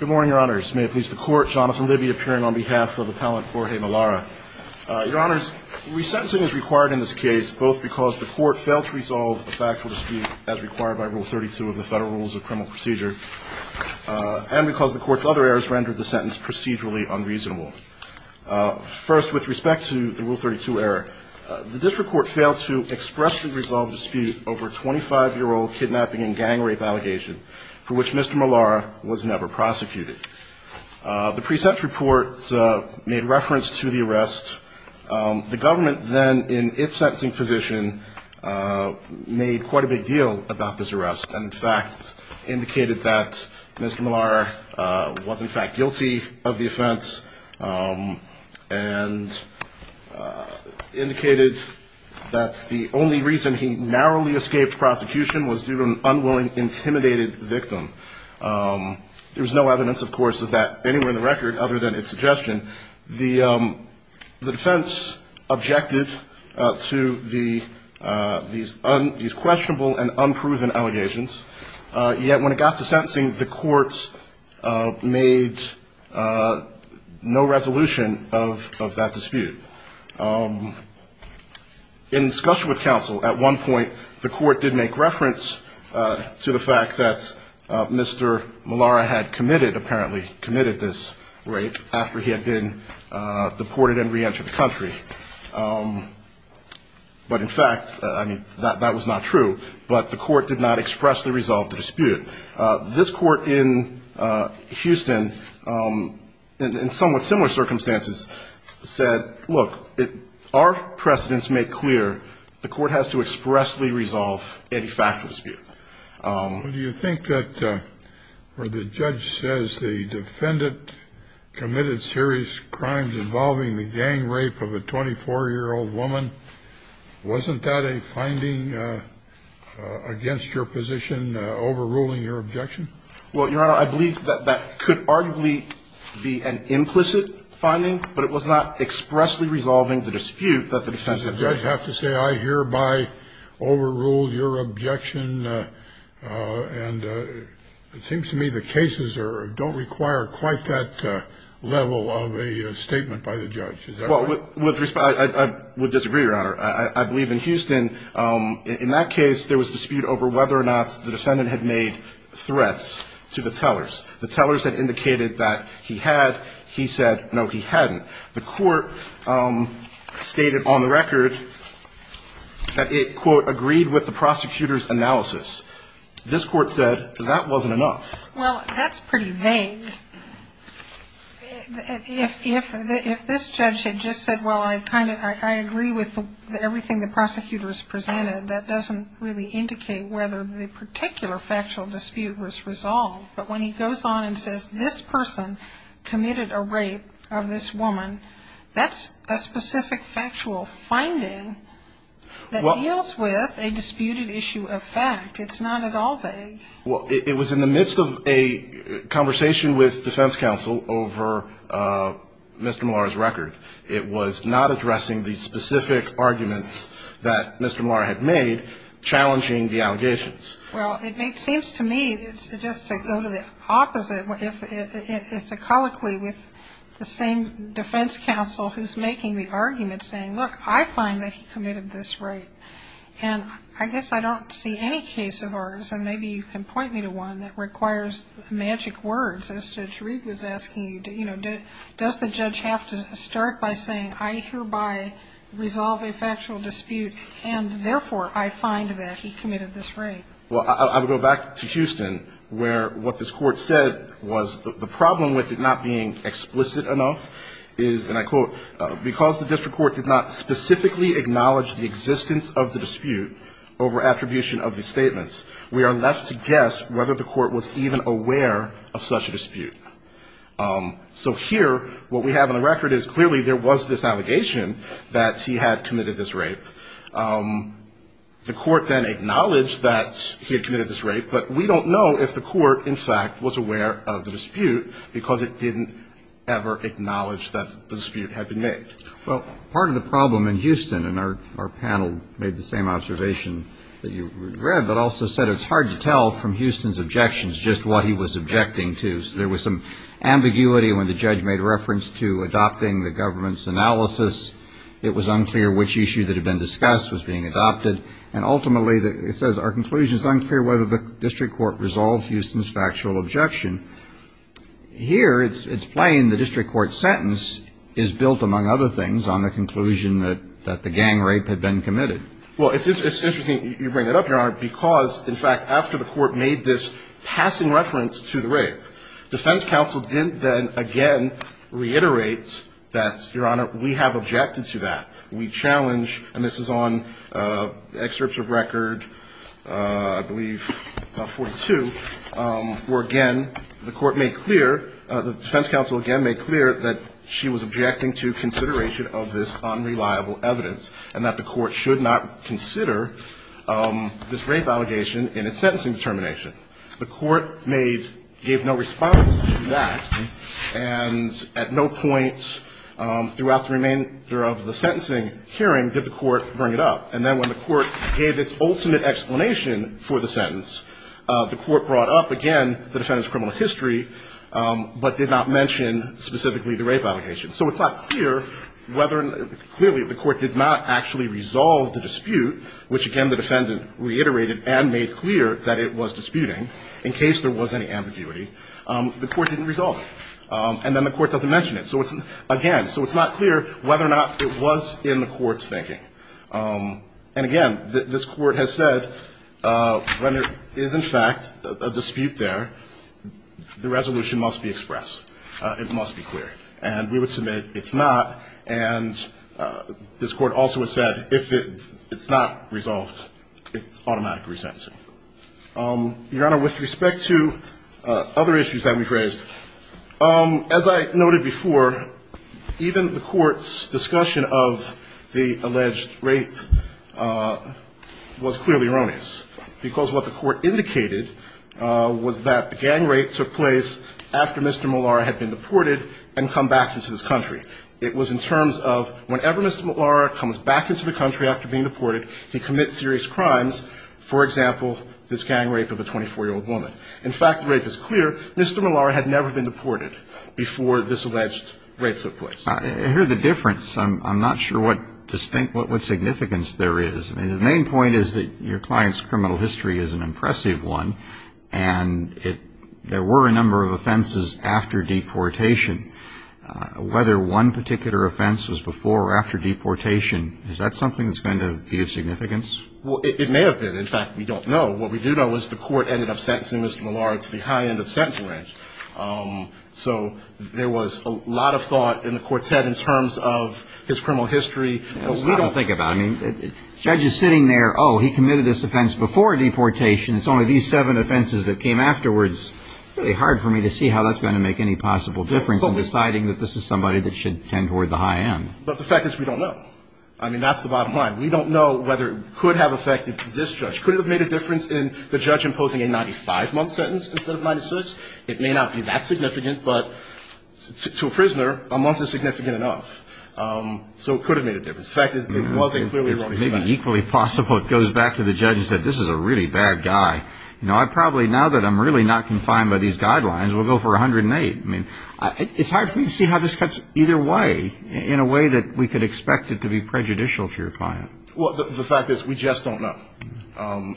Good morning, Your Honors. May it please the Court, Jonathan Libby appearing on behalf of Appellant Jorge Melara. Your Honors, resentencing is required in this case, both because the Court failed to resolve a factual dispute as required by Rule 32 of the Federal Rules of Criminal Procedure, and because the Court's other errors rendered the sentence procedurally unreasonable. First, with respect to the Rule 32 error, the District Court failed to expressly resolve dispute over a 25-year-old kidnapping and gang rape allegation for which Mr. Melara was never prosecuted. The pre-sentence report made reference to the arrest. The government then, in its sentencing position, made quite a big deal about this arrest, and in fact indicated that Mr. Melara was in fact guilty of the offense, and indicated that the only reason he narrowly escaped prosecution was due to an unwilling, intimidated victim. There was no evidence, of course, of that anywhere in the record, other than its suggestion. The defense objected to these questionable and unproven allegations, yet when it got to sentencing, the courts made no resolution of that dispute. In discussion with counsel, at one point, the Court did make reference to the fact that Mr. Melara had committed, apparently committed, this rape after he had been deported and reentered the country. But in fact, I mean, that was not true, but the Court did not expressly resolve the dispute. This Court in Houston, in somewhat similar circumstances, said, look, our precedents make clear, the Court has to expressly resolve any factual dispute. Do you think that where the judge says the defendant committed serious crimes involving the gang rape of a 24-year-old woman, wasn't that a finding against your position overruling your objection? Well, Your Honor, I believe that that could arguably be an implicit finding, but it was not expressly resolving the dispute that the defense had made. Did the judge have to say, I hereby overruled your objection? And it seems to me the cases don't require quite that level of a statement by the judge. Is that right? Well, with respect, I would disagree, Your Honor. I believe in Houston, in that case, there was dispute over whether or not the defendant had made threats to the tellers. The tellers had indicated that he had. He said, no, he hadn't. The Court stated on the record that it, quote, agreed with the prosecutor's analysis. This Court said that that wasn't enough. Well, that's pretty vague. If this judge had just said, well, I agree with everything the prosecutor has presented, that doesn't really indicate whether the particular factual dispute was resolved. But when he goes on and says, this person committed a rape of this woman, that's a specific factual finding that deals with a disputed issue of fact. It's not at all vague. Well, it was in the midst of a conversation with defense counsel over Mr. Malar's record. It was not addressing the specific arguments that Mr. Malar had made challenging the allegations. Well, it seems to me, just to go to the opposite, it's a colloquy with the same defense counsel who's making the argument saying, look, I find that he committed this rape. And I guess I don't see any case of ours, and maybe you can point me to one, that requires magic words, as Judge Reed was asking you, you know, does the judge have to start by saying, I hereby resolve a factual dispute, and therefore I find that he committed this rape. Well, I would go back to Houston, where what this Court said was the problem with it not being explicit enough is, and I quote, because the district court did not specifically acknowledge the existence of the dispute over attribution of the statements, we are left to guess whether the Court was even aware of such a dispute. So here, what we have on the record is clearly there was this allegation that he had acknowledged that he had committed this rape, but we don't know if the Court, in fact, was aware of the dispute because it didn't ever acknowledge that the dispute had been made. Well, part of the problem in Houston, and our panel made the same observation that you read, but also said it's hard to tell from Houston's objections just what he was objecting to. There was some ambiguity when the judge made reference to adopting the government's analysis. It was unclear which issue that had been discussed was being adopted. And ultimately, it says our conclusion is unclear whether the district court resolved Houston's factual objection. Here, it's plain the district court's sentence is built, among other things, on the conclusion that the gang rape had been committed. Well, it's interesting you bring that up, Your Honor, because, in fact, after the Court made this passing reference to the rape, defense counsel didn't then again reiterate that, Your Honor, we have objected to that. We challenge, and this is on excerpts of record, I believe, 42, where, again, the Court made clear, the defense counsel again made clear that she was objecting to consideration of this unreliable evidence and that the Court should not consider this rape allegation in its sentencing determination. The Court made – gave no response to that, and at no point throughout the remainder of the sentencing hearing did the Court bring it up. And then when the Court gave its ultimate explanation for the sentence, the Court brought up again the defendant's criminal history, but did not mention specifically the rape allegation. So it's not clear whether – clearly, the Court did not actually resolve the dispute, which again the defendant reiterated and made clear that it was disputed. And again, this Court has said when there is, in fact, a dispute there, the resolution must be expressed. It must be clear. And we would submit it's not, and this Court also has said if it's not resolved, other issues that we've raised. As I noted before, even the Court's discussion of the alleged rape was clearly erroneous, because what the Court indicated was that the gang rape took place after Mr. Malara had been deported and come back into this country. It was in terms of whenever Mr. Malara comes back into the country after being deported, he commits serious crimes, for example, this gang rape of a 24-year-old woman. In fact, the rape is clear. Mr. Malara had never been deported before this alleged rape took place. I hear the difference. I'm not sure what distinct – what significance there is. I mean, the main point is that your client's criminal history is an impressive one, and it – there were a number of offenses after deportation. Whether one particular offense was before or after deportation, is that something that's going to be of significance? Well, it may have been. In fact, we don't know. What we do know is the Court ended up sentencing Mr. Malara to the high end of the sentencing range. So there was a lot of thought in the Court's head in terms of his criminal history. It's hard to think about. I mean, the judge is sitting there, oh, he committed this offense before deportation. It's only these seven offenses that came afterwards. Really hard for me to see how that's going to make any possible difference in deciding that this is somebody that should tend toward the high end. But the fact is we don't know. I mean, that's the bottom line. We don't know whether it could have affected this judge. Could it have made a difference in the judge imposing a 95-month sentence instead of 96? It may not be that significant, but to a prisoner, a month is significant enough. So it could have made a difference. The fact is it was a clearly wrong judgment. Maybe equally possible it goes back to the judge and says, this is a really bad guy. You know, I probably – now that I'm really not confined by these guidelines, we'll go for 108. I mean, it's hard for me to see how this cuts either way in a way that we could expect it to be prejudicial to your client. Well, the fact is we just don't know.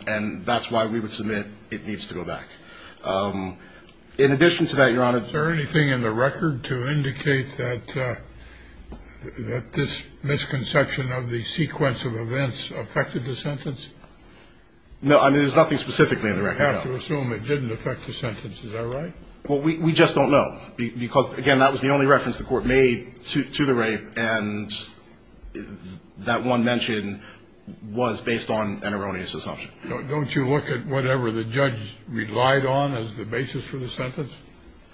And that's why we would submit it needs to go back. In addition to that, Your Honor – Is there anything in the record to indicate that this misconception of the sequence of events affected the sentence? No. I mean, there's nothing specifically in the record. I have to assume it didn't affect the sentence. Is that right? Well, we just don't know. Because, again, that was the only reference the Court made to the rape, and that one mention was based on an erroneous assumption. Don't you look at whatever the judge relied on as the basis for the sentence?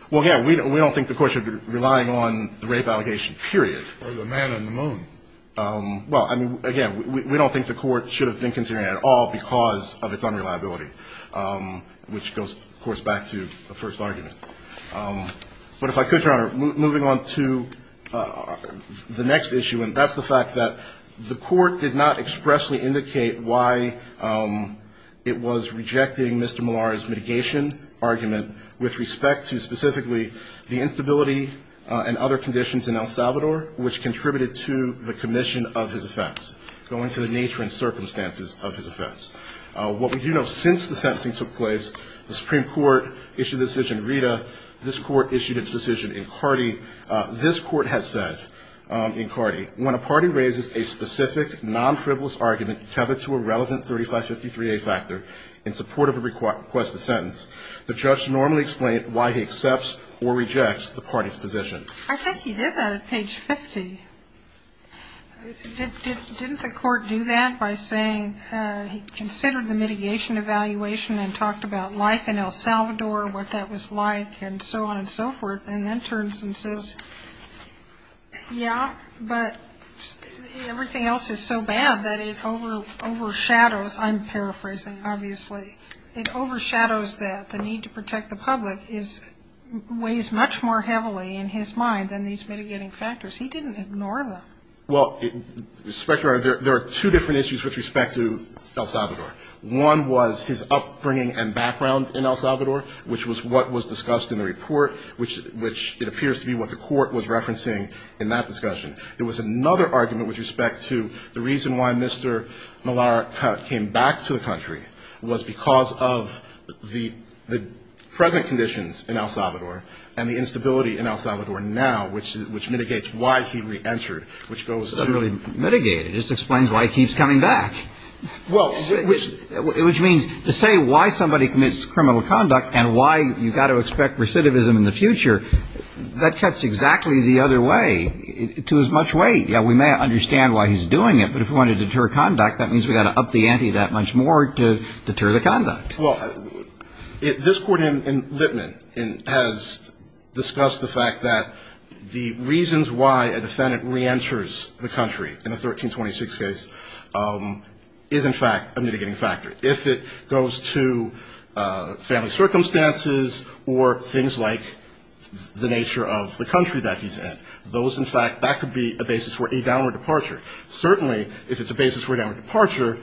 Well, again, we don't think the Court should be relying on the rape allegation, period. Or the man on the moon. Well, I mean, again, we don't think the Court should have been considering it at all because of its unreliability, which goes, of course, back to the first argument. But if I could, Your Honor, moving on to the next issue, and that's the fact that the Court did not expressly indicate why it was rejecting Mr. Malari's mitigation argument with respect to specifically the instability and other conditions in El Salvador, which contributed to the commission of his offense, going to the nature and circumstances of his offense. What we do know, since the sentencing took place, the Supreme Court issued the decision RITA. This Court issued its decision in CARDI. This Court has said in CARDI, when a party raises a specific non-frivolous argument tethered to a relevant 3553A factor in support of a requested sentence, the judge normally explains why he accepts or rejects the party's position. I think he did that at page 50. Didn't the Court do that by saying he considered the mitigation evaluation and talked about life in El Salvador, what that was like, and so on and so forth, and then turns and says, yeah, but everything else is so bad that it overshadows. I'm paraphrasing, obviously. It overshadows that the need to protect the public weighs much more heavily in his mind than these mitigating factors. He didn't ignore them. Well, there are two different issues with respect to El Salvador. One was his upbringing and background in El Salvador, which was what was discussed in the report, which it appears to be what the Court was referencing in that discussion. There was another argument with respect to the reason why Mr. Malarik came back to the country was because of the present conditions in El Salvador and the instability in El Salvador now, which mitigates why he reentered, which goes to the next point. It doesn't really mitigate it. It just explains why he keeps coming back. Well, which – Which means to say why somebody commits criminal conduct and why you've got to expect recidivism in the future, that cuts exactly the other way to as much weight. Yeah, we may understand why he's doing it, but if we want to deter conduct, that means we've got to up the ante that much more to deter the conduct. Well, this Court in Lippman has discussed the fact that the reasons why a defendant reenters the country in the 1326 case is, in fact, a mitigating factor. If it goes to family circumstances or things like the nature of the country that he's in, those, in fact, that could be a basis for a downward departure. Certainly, if it's a basis for a downward departure,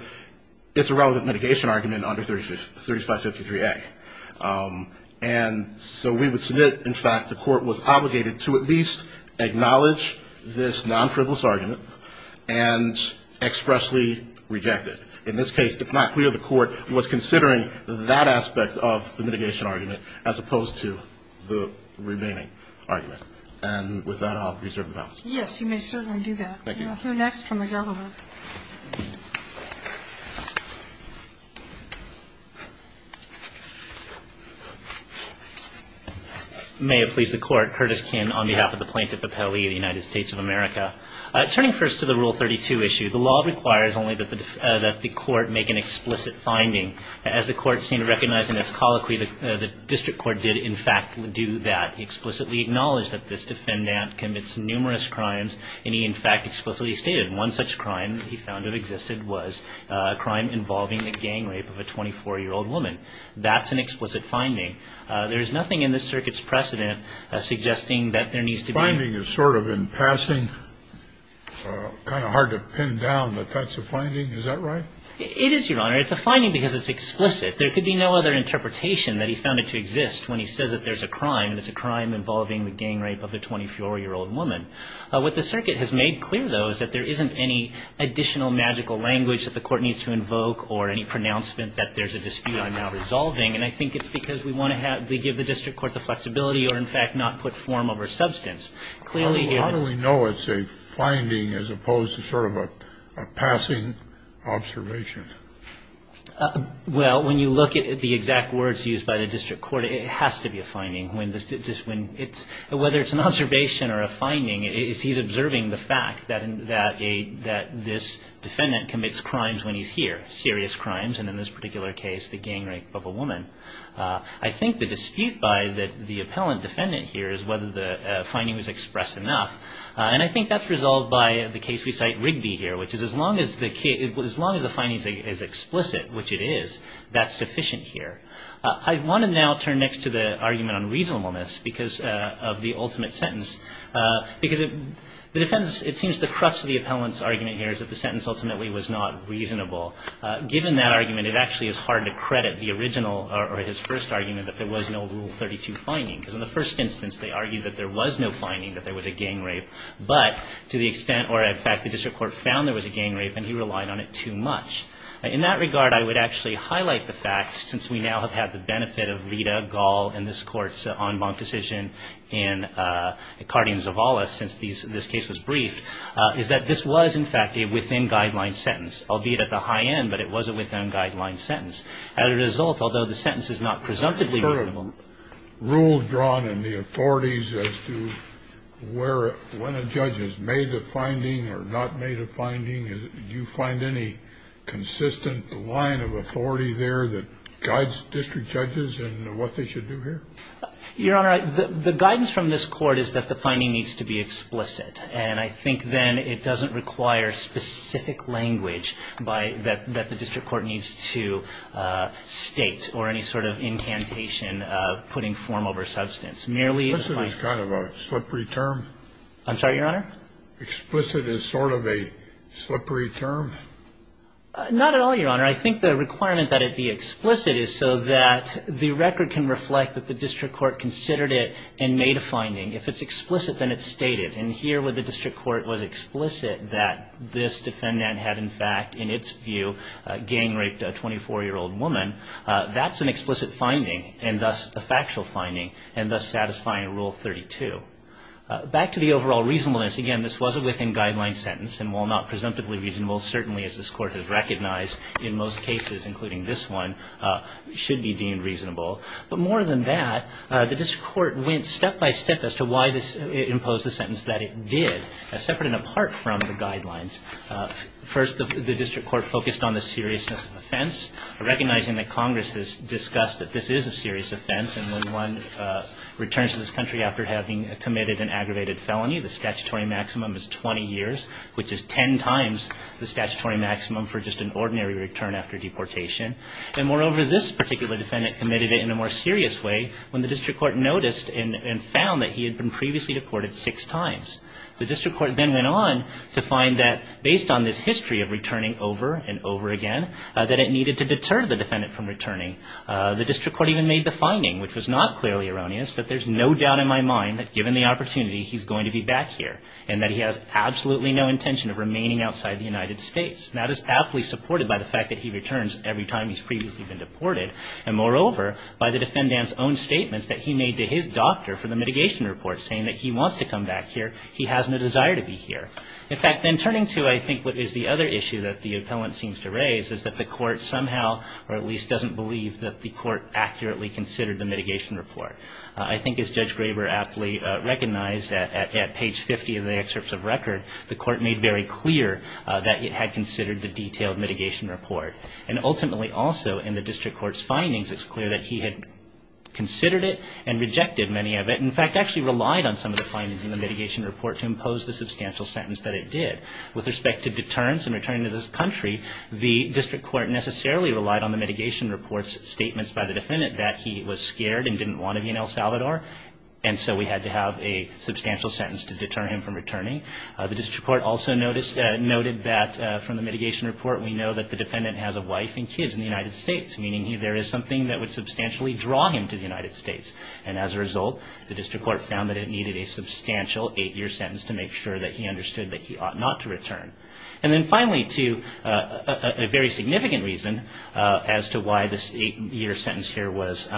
it's a relevant mitigation argument under 3553A. And so we would submit, in fact, the Court was obligated to at least acknowledge this non-frivolous argument and expressly reject it. In this case, it's not clear the Court was considering that aspect of the mitigation argument as opposed to the remaining argument. And with that, I'll reserve the balance. Yes, you may certainly do that. Thank you. We'll hear next from the gentleman. May it please the Court. Curtis Kin on behalf of the Plaintiff Appellee of the United States of America. Turning first to the Rule 32 issue, the law requires only that the Court make an explicit finding. As the Court seemed to recognize in its colloquy, the district court did, in fact, do that. He explicitly acknowledged that this defendant commits numerous crimes, and he, in fact, explicitly stated one such crime he found that existed was a crime involving a gang rape of a 24-year-old woman. That's an explicit finding. There is nothing in this circuit's precedent suggesting that there needs to be an explicit finding. The finding is sort of in passing, kind of hard to pin down that that's a finding. Is that right? It is, Your Honor. It's a finding because it's explicit. There could be no other interpretation that he found it to exist when he says that there's a crime and it's a crime involving the gang rape of a 24-year-old woman. What the circuit has made clear, though, is that there isn't any additional magical language that the Court needs to invoke or any pronouncement that there's a dispute on now resolving, and I think it's because we want to give the district court the flexibility or, in fact, not put form over substance. Clearly here this is the case. Well, how do we know it's a finding as opposed to sort of a passing observation? Well, when you look at the exact words used by the district court, it has to be a finding. Whether it's an observation or a finding, he's observing the fact that this defendant commits crimes when he's here, serious crimes, and in this particular case the gang rape of a woman. I think the dispute by the appellant defendant here is whether the finding was expressed enough, and I think that's resolved by the case we cite Rigby here, which is as long as the finding is explicit, which it is, that's sufficient here. I want to now turn next to the argument on reasonableness because of the ultimate sentence, because it seems the crux of the appellant's argument here is that the sentence ultimately was not reasonable. Given that argument, it actually is hard to credit the original or his first argument that there was no Rule 32 finding, because in the first instance they argued that there was no finding that there was a gang rape, but to the extent, or in fact, the district court found there was a gang rape and he relied on it too much. In that regard, I would actually highlight the fact, since we now have had the benefit of Rita, Gall, and this Court's en banc decision, and Cardin's of all us since this case was briefed, is that this was, in fact, a within-guideline sentence, albeit at the high end, but it was a within-guideline sentence. As a result, although the sentence is not presumptively reasonable. Scalia. Rule drawn in the authorities as to when a judge has made a finding or not made a finding, do you find any consistent line of authority there that guides district judges in what they should do here? Shaheen. Your Honor, the guidance from this Court is that the finding needs to be explicit. And I think then it doesn't require specific language that the district court needs to state or any sort of incantation of putting form over substance. Merely if I ---- Scalia. Explicit is kind of a slippery term. Shaheen. I'm sorry, Your Honor? Scalia. Explicit is sort of a slippery term. Shaheen. Not at all, Your Honor. I think the requirement that it be explicit is so that the record can reflect that the district court considered it and made a finding. If it's explicit, then it's stated. And here where the district court was explicit that this defendant had, in fact, in its view, gang raped a 24-year-old woman, that's an explicit finding and thus a factual finding and thus satisfying Rule 32. Back to the overall reasonableness. Again, this was a within-guideline sentence. And while not presumptively reasonable, certainly as this Court has recognized in most cases, including this one, should be deemed reasonable. But more than that, the district court went step-by-step as to why it imposed the sentence that it did, separate and apart from the guidelines. First, the district court focused on the seriousness of offense, recognizing that Congress has discussed that this is a serious offense, and when one returns to this country after having committed an aggravated felony, the statutory maximum is 20 years, which is ten times the statutory maximum for just an ordinary return after deportation. And moreover, this particular defendant committed it in a more serious way when the district court noticed and found that he had been previously deported six times. The district court then went on to find that based on this history of returning over and over again, that it needed to deter the defendant from returning. The district court even made the finding, which was not clearly erroneous, that there's no doubt in my mind that given the opportunity, he's going to be back here, and that he has absolutely no intention of remaining outside the United States. That is aptly supported by the fact that he returns every time he's previously been deported, and moreover, by the defendant's own statements that he made to his doctor for the mitigation report, saying that he wants to come back here, he has no desire to be here. In fact, in turning to, I think, what is the other issue that the appellant seems to raise is that the court somehow, or at least doesn't believe, that the court accurately considered the mitigation report. I think as Judge Graber aptly recognized at page 50 of the excerpts of record, the court made very clear that it had considered the detailed mitigation report. And ultimately, also, in the district court's findings, it's clear that he had considered it and rejected many of it, and in fact, actually relied on some of the findings in the mitigation report to impose the substantial sentence that it did. With respect to deterrence and returning to this country, the district court necessarily relied on the mitigation report's statements by the defendant that he was scared and didn't want to be in El Salvador, and so we had to have a substantial sentence to deter him from returning. The district court also noted that from the mitigation report, we know that the defendant has a wife and kids in the United States, meaning there is something that would substantially draw him to the United States. And as a result, the district court found that it needed a substantial eight-year sentence to make sure that he understood that he ought not to return. And then finally, too, a very significant reason as to why this eight-year sentence here was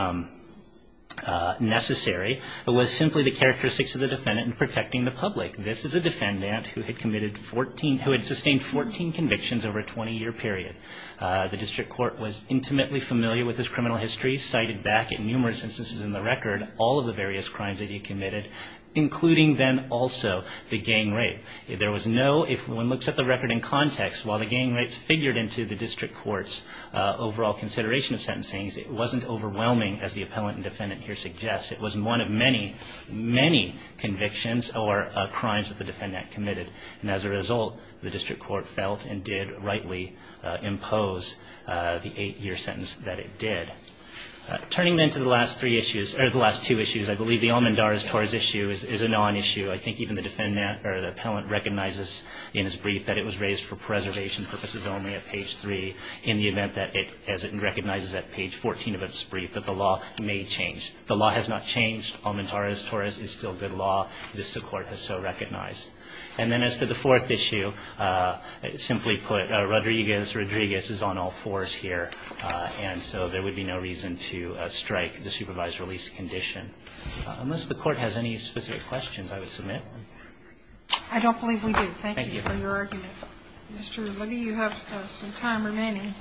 necessary was simply the characteristics of the defendant in protecting the public. This is a defendant who had sustained 14 convictions over a 20-year period. The district court was intimately familiar with his criminal history, cited back in numerous instances in the record all of the various crimes that he committed, including then also the gang rape. There was no, if one looks at the record in context, while the gang rapes figured into the district court's overall consideration of sentencing, it wasn't overwhelming as the appellant and defendant here suggest. It was one of many, many convictions or crimes that the defendant committed. And as a result, the district court felt and did rightly impose the eight-year sentence that it did. Turning then to the last three issues, or the last two issues, I believe the Almendares-Torres issue is a non-issue. I think even the defendant or the appellant recognizes in his brief that it was raised for preservation purposes only at page 3 in the event that it, as it recognizes at page 14 of its brief, that the law may change. The law has not changed. Almendares-Torres is still good law. This court has so recognized. And then as to the fourth issue, simply put, Rodriguez, Rodriguez is on all fours here. And so there would be no reason to strike the supervised release condition. Unless the Court has any specific questions, I would submit. I don't believe we do. Thank you for your argument. Mr. Levy, you have some time remaining.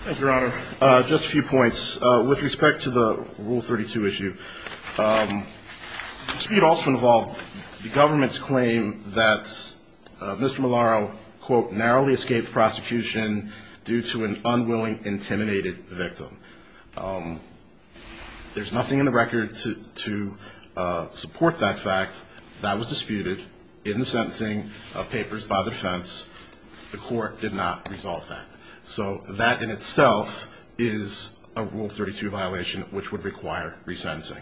Thank you, Your Honor. Just a few points. With respect to the Rule 32 issue, to be also involved, the government's claim that Mr. Malaro, quote, narrowly escaped prosecution due to an unwilling, intimidated victim. There's nothing in the record to support that fact. That was disputed in the sentencing papers by the defense. The Court did not resolve that. So that in itself is a Rule 32 violation, which would require resentencing.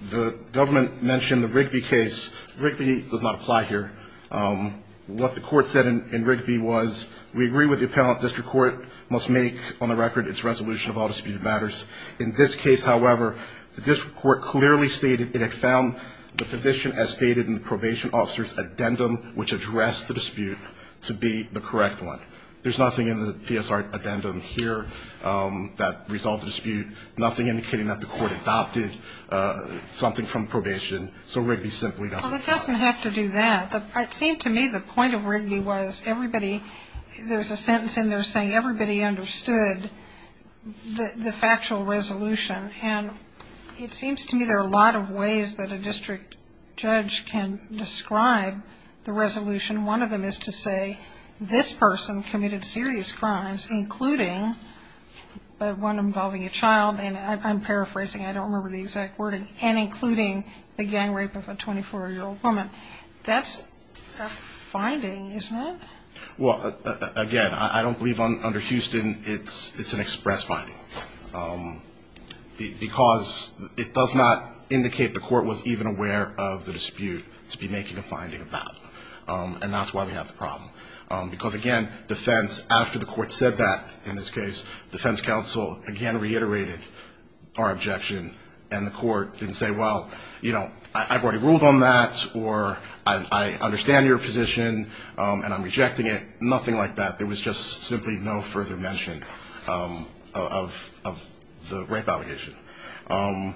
The government mentioned the Rigby case. Rigby does not apply here. What the Court said in Rigby was, we agree with the appellate district court must make on the record its resolution of all disputed matters. In this case, however, the district court clearly stated it had found the position as stated in the probation officer's addendum, which addressed the dispute, to be the correct one. There's nothing in the PSR addendum here that resolved the dispute, nothing indicating that the Court adopted something from probation. So Rigby simply doesn't apply. Well, it doesn't have to do that. It seemed to me the point of Rigby was everybody, there's a sentence in there saying everybody understood the factual resolution. And it seems to me there are a lot of ways that a district judge can describe the resolution. One of them is to say this person committed serious crimes, including the one involving a child. And I'm paraphrasing. I don't remember the exact wording. And including the gang rape of a 24-year-old woman. That's a finding, isn't it? Well, again, I don't believe under Houston it's an express finding. Because it does not indicate the Court was even aware of the dispute to be making a finding of that. And that's why we have the problem. Because, again, defense, after the Court said that, in this case, defense counsel again reiterated our objection. And the Court didn't say, well, you know, I've already ruled on that, or I understand your position and I'm rejecting it. Nothing like that. It was just simply no further mention of the rape allegation. And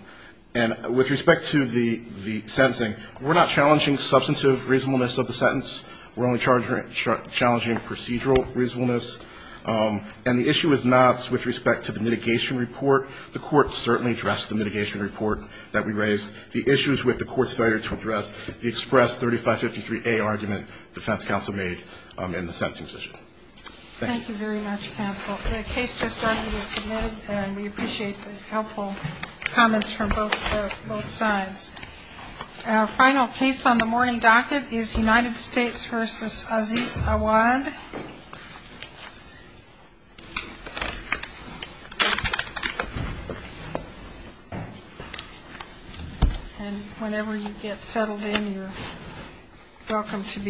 with respect to the sentencing, we're not challenging substantive reasonableness of the sentence. We're only challenging procedural reasonableness. And the issue is not with respect to the mitigation report. The Court certainly addressed the mitigation report that we raised. The issues with the Court's failure to address the express 3553A argument that the defense counsel made in the sentencing position. Thank you. Thank you very much, counsel. The case just docket is submitted, and we appreciate the helpful comments from both sides. Our final case on the morning docket is United States v. Aziz Awad. And whenever you get settled in, you're welcome to begin.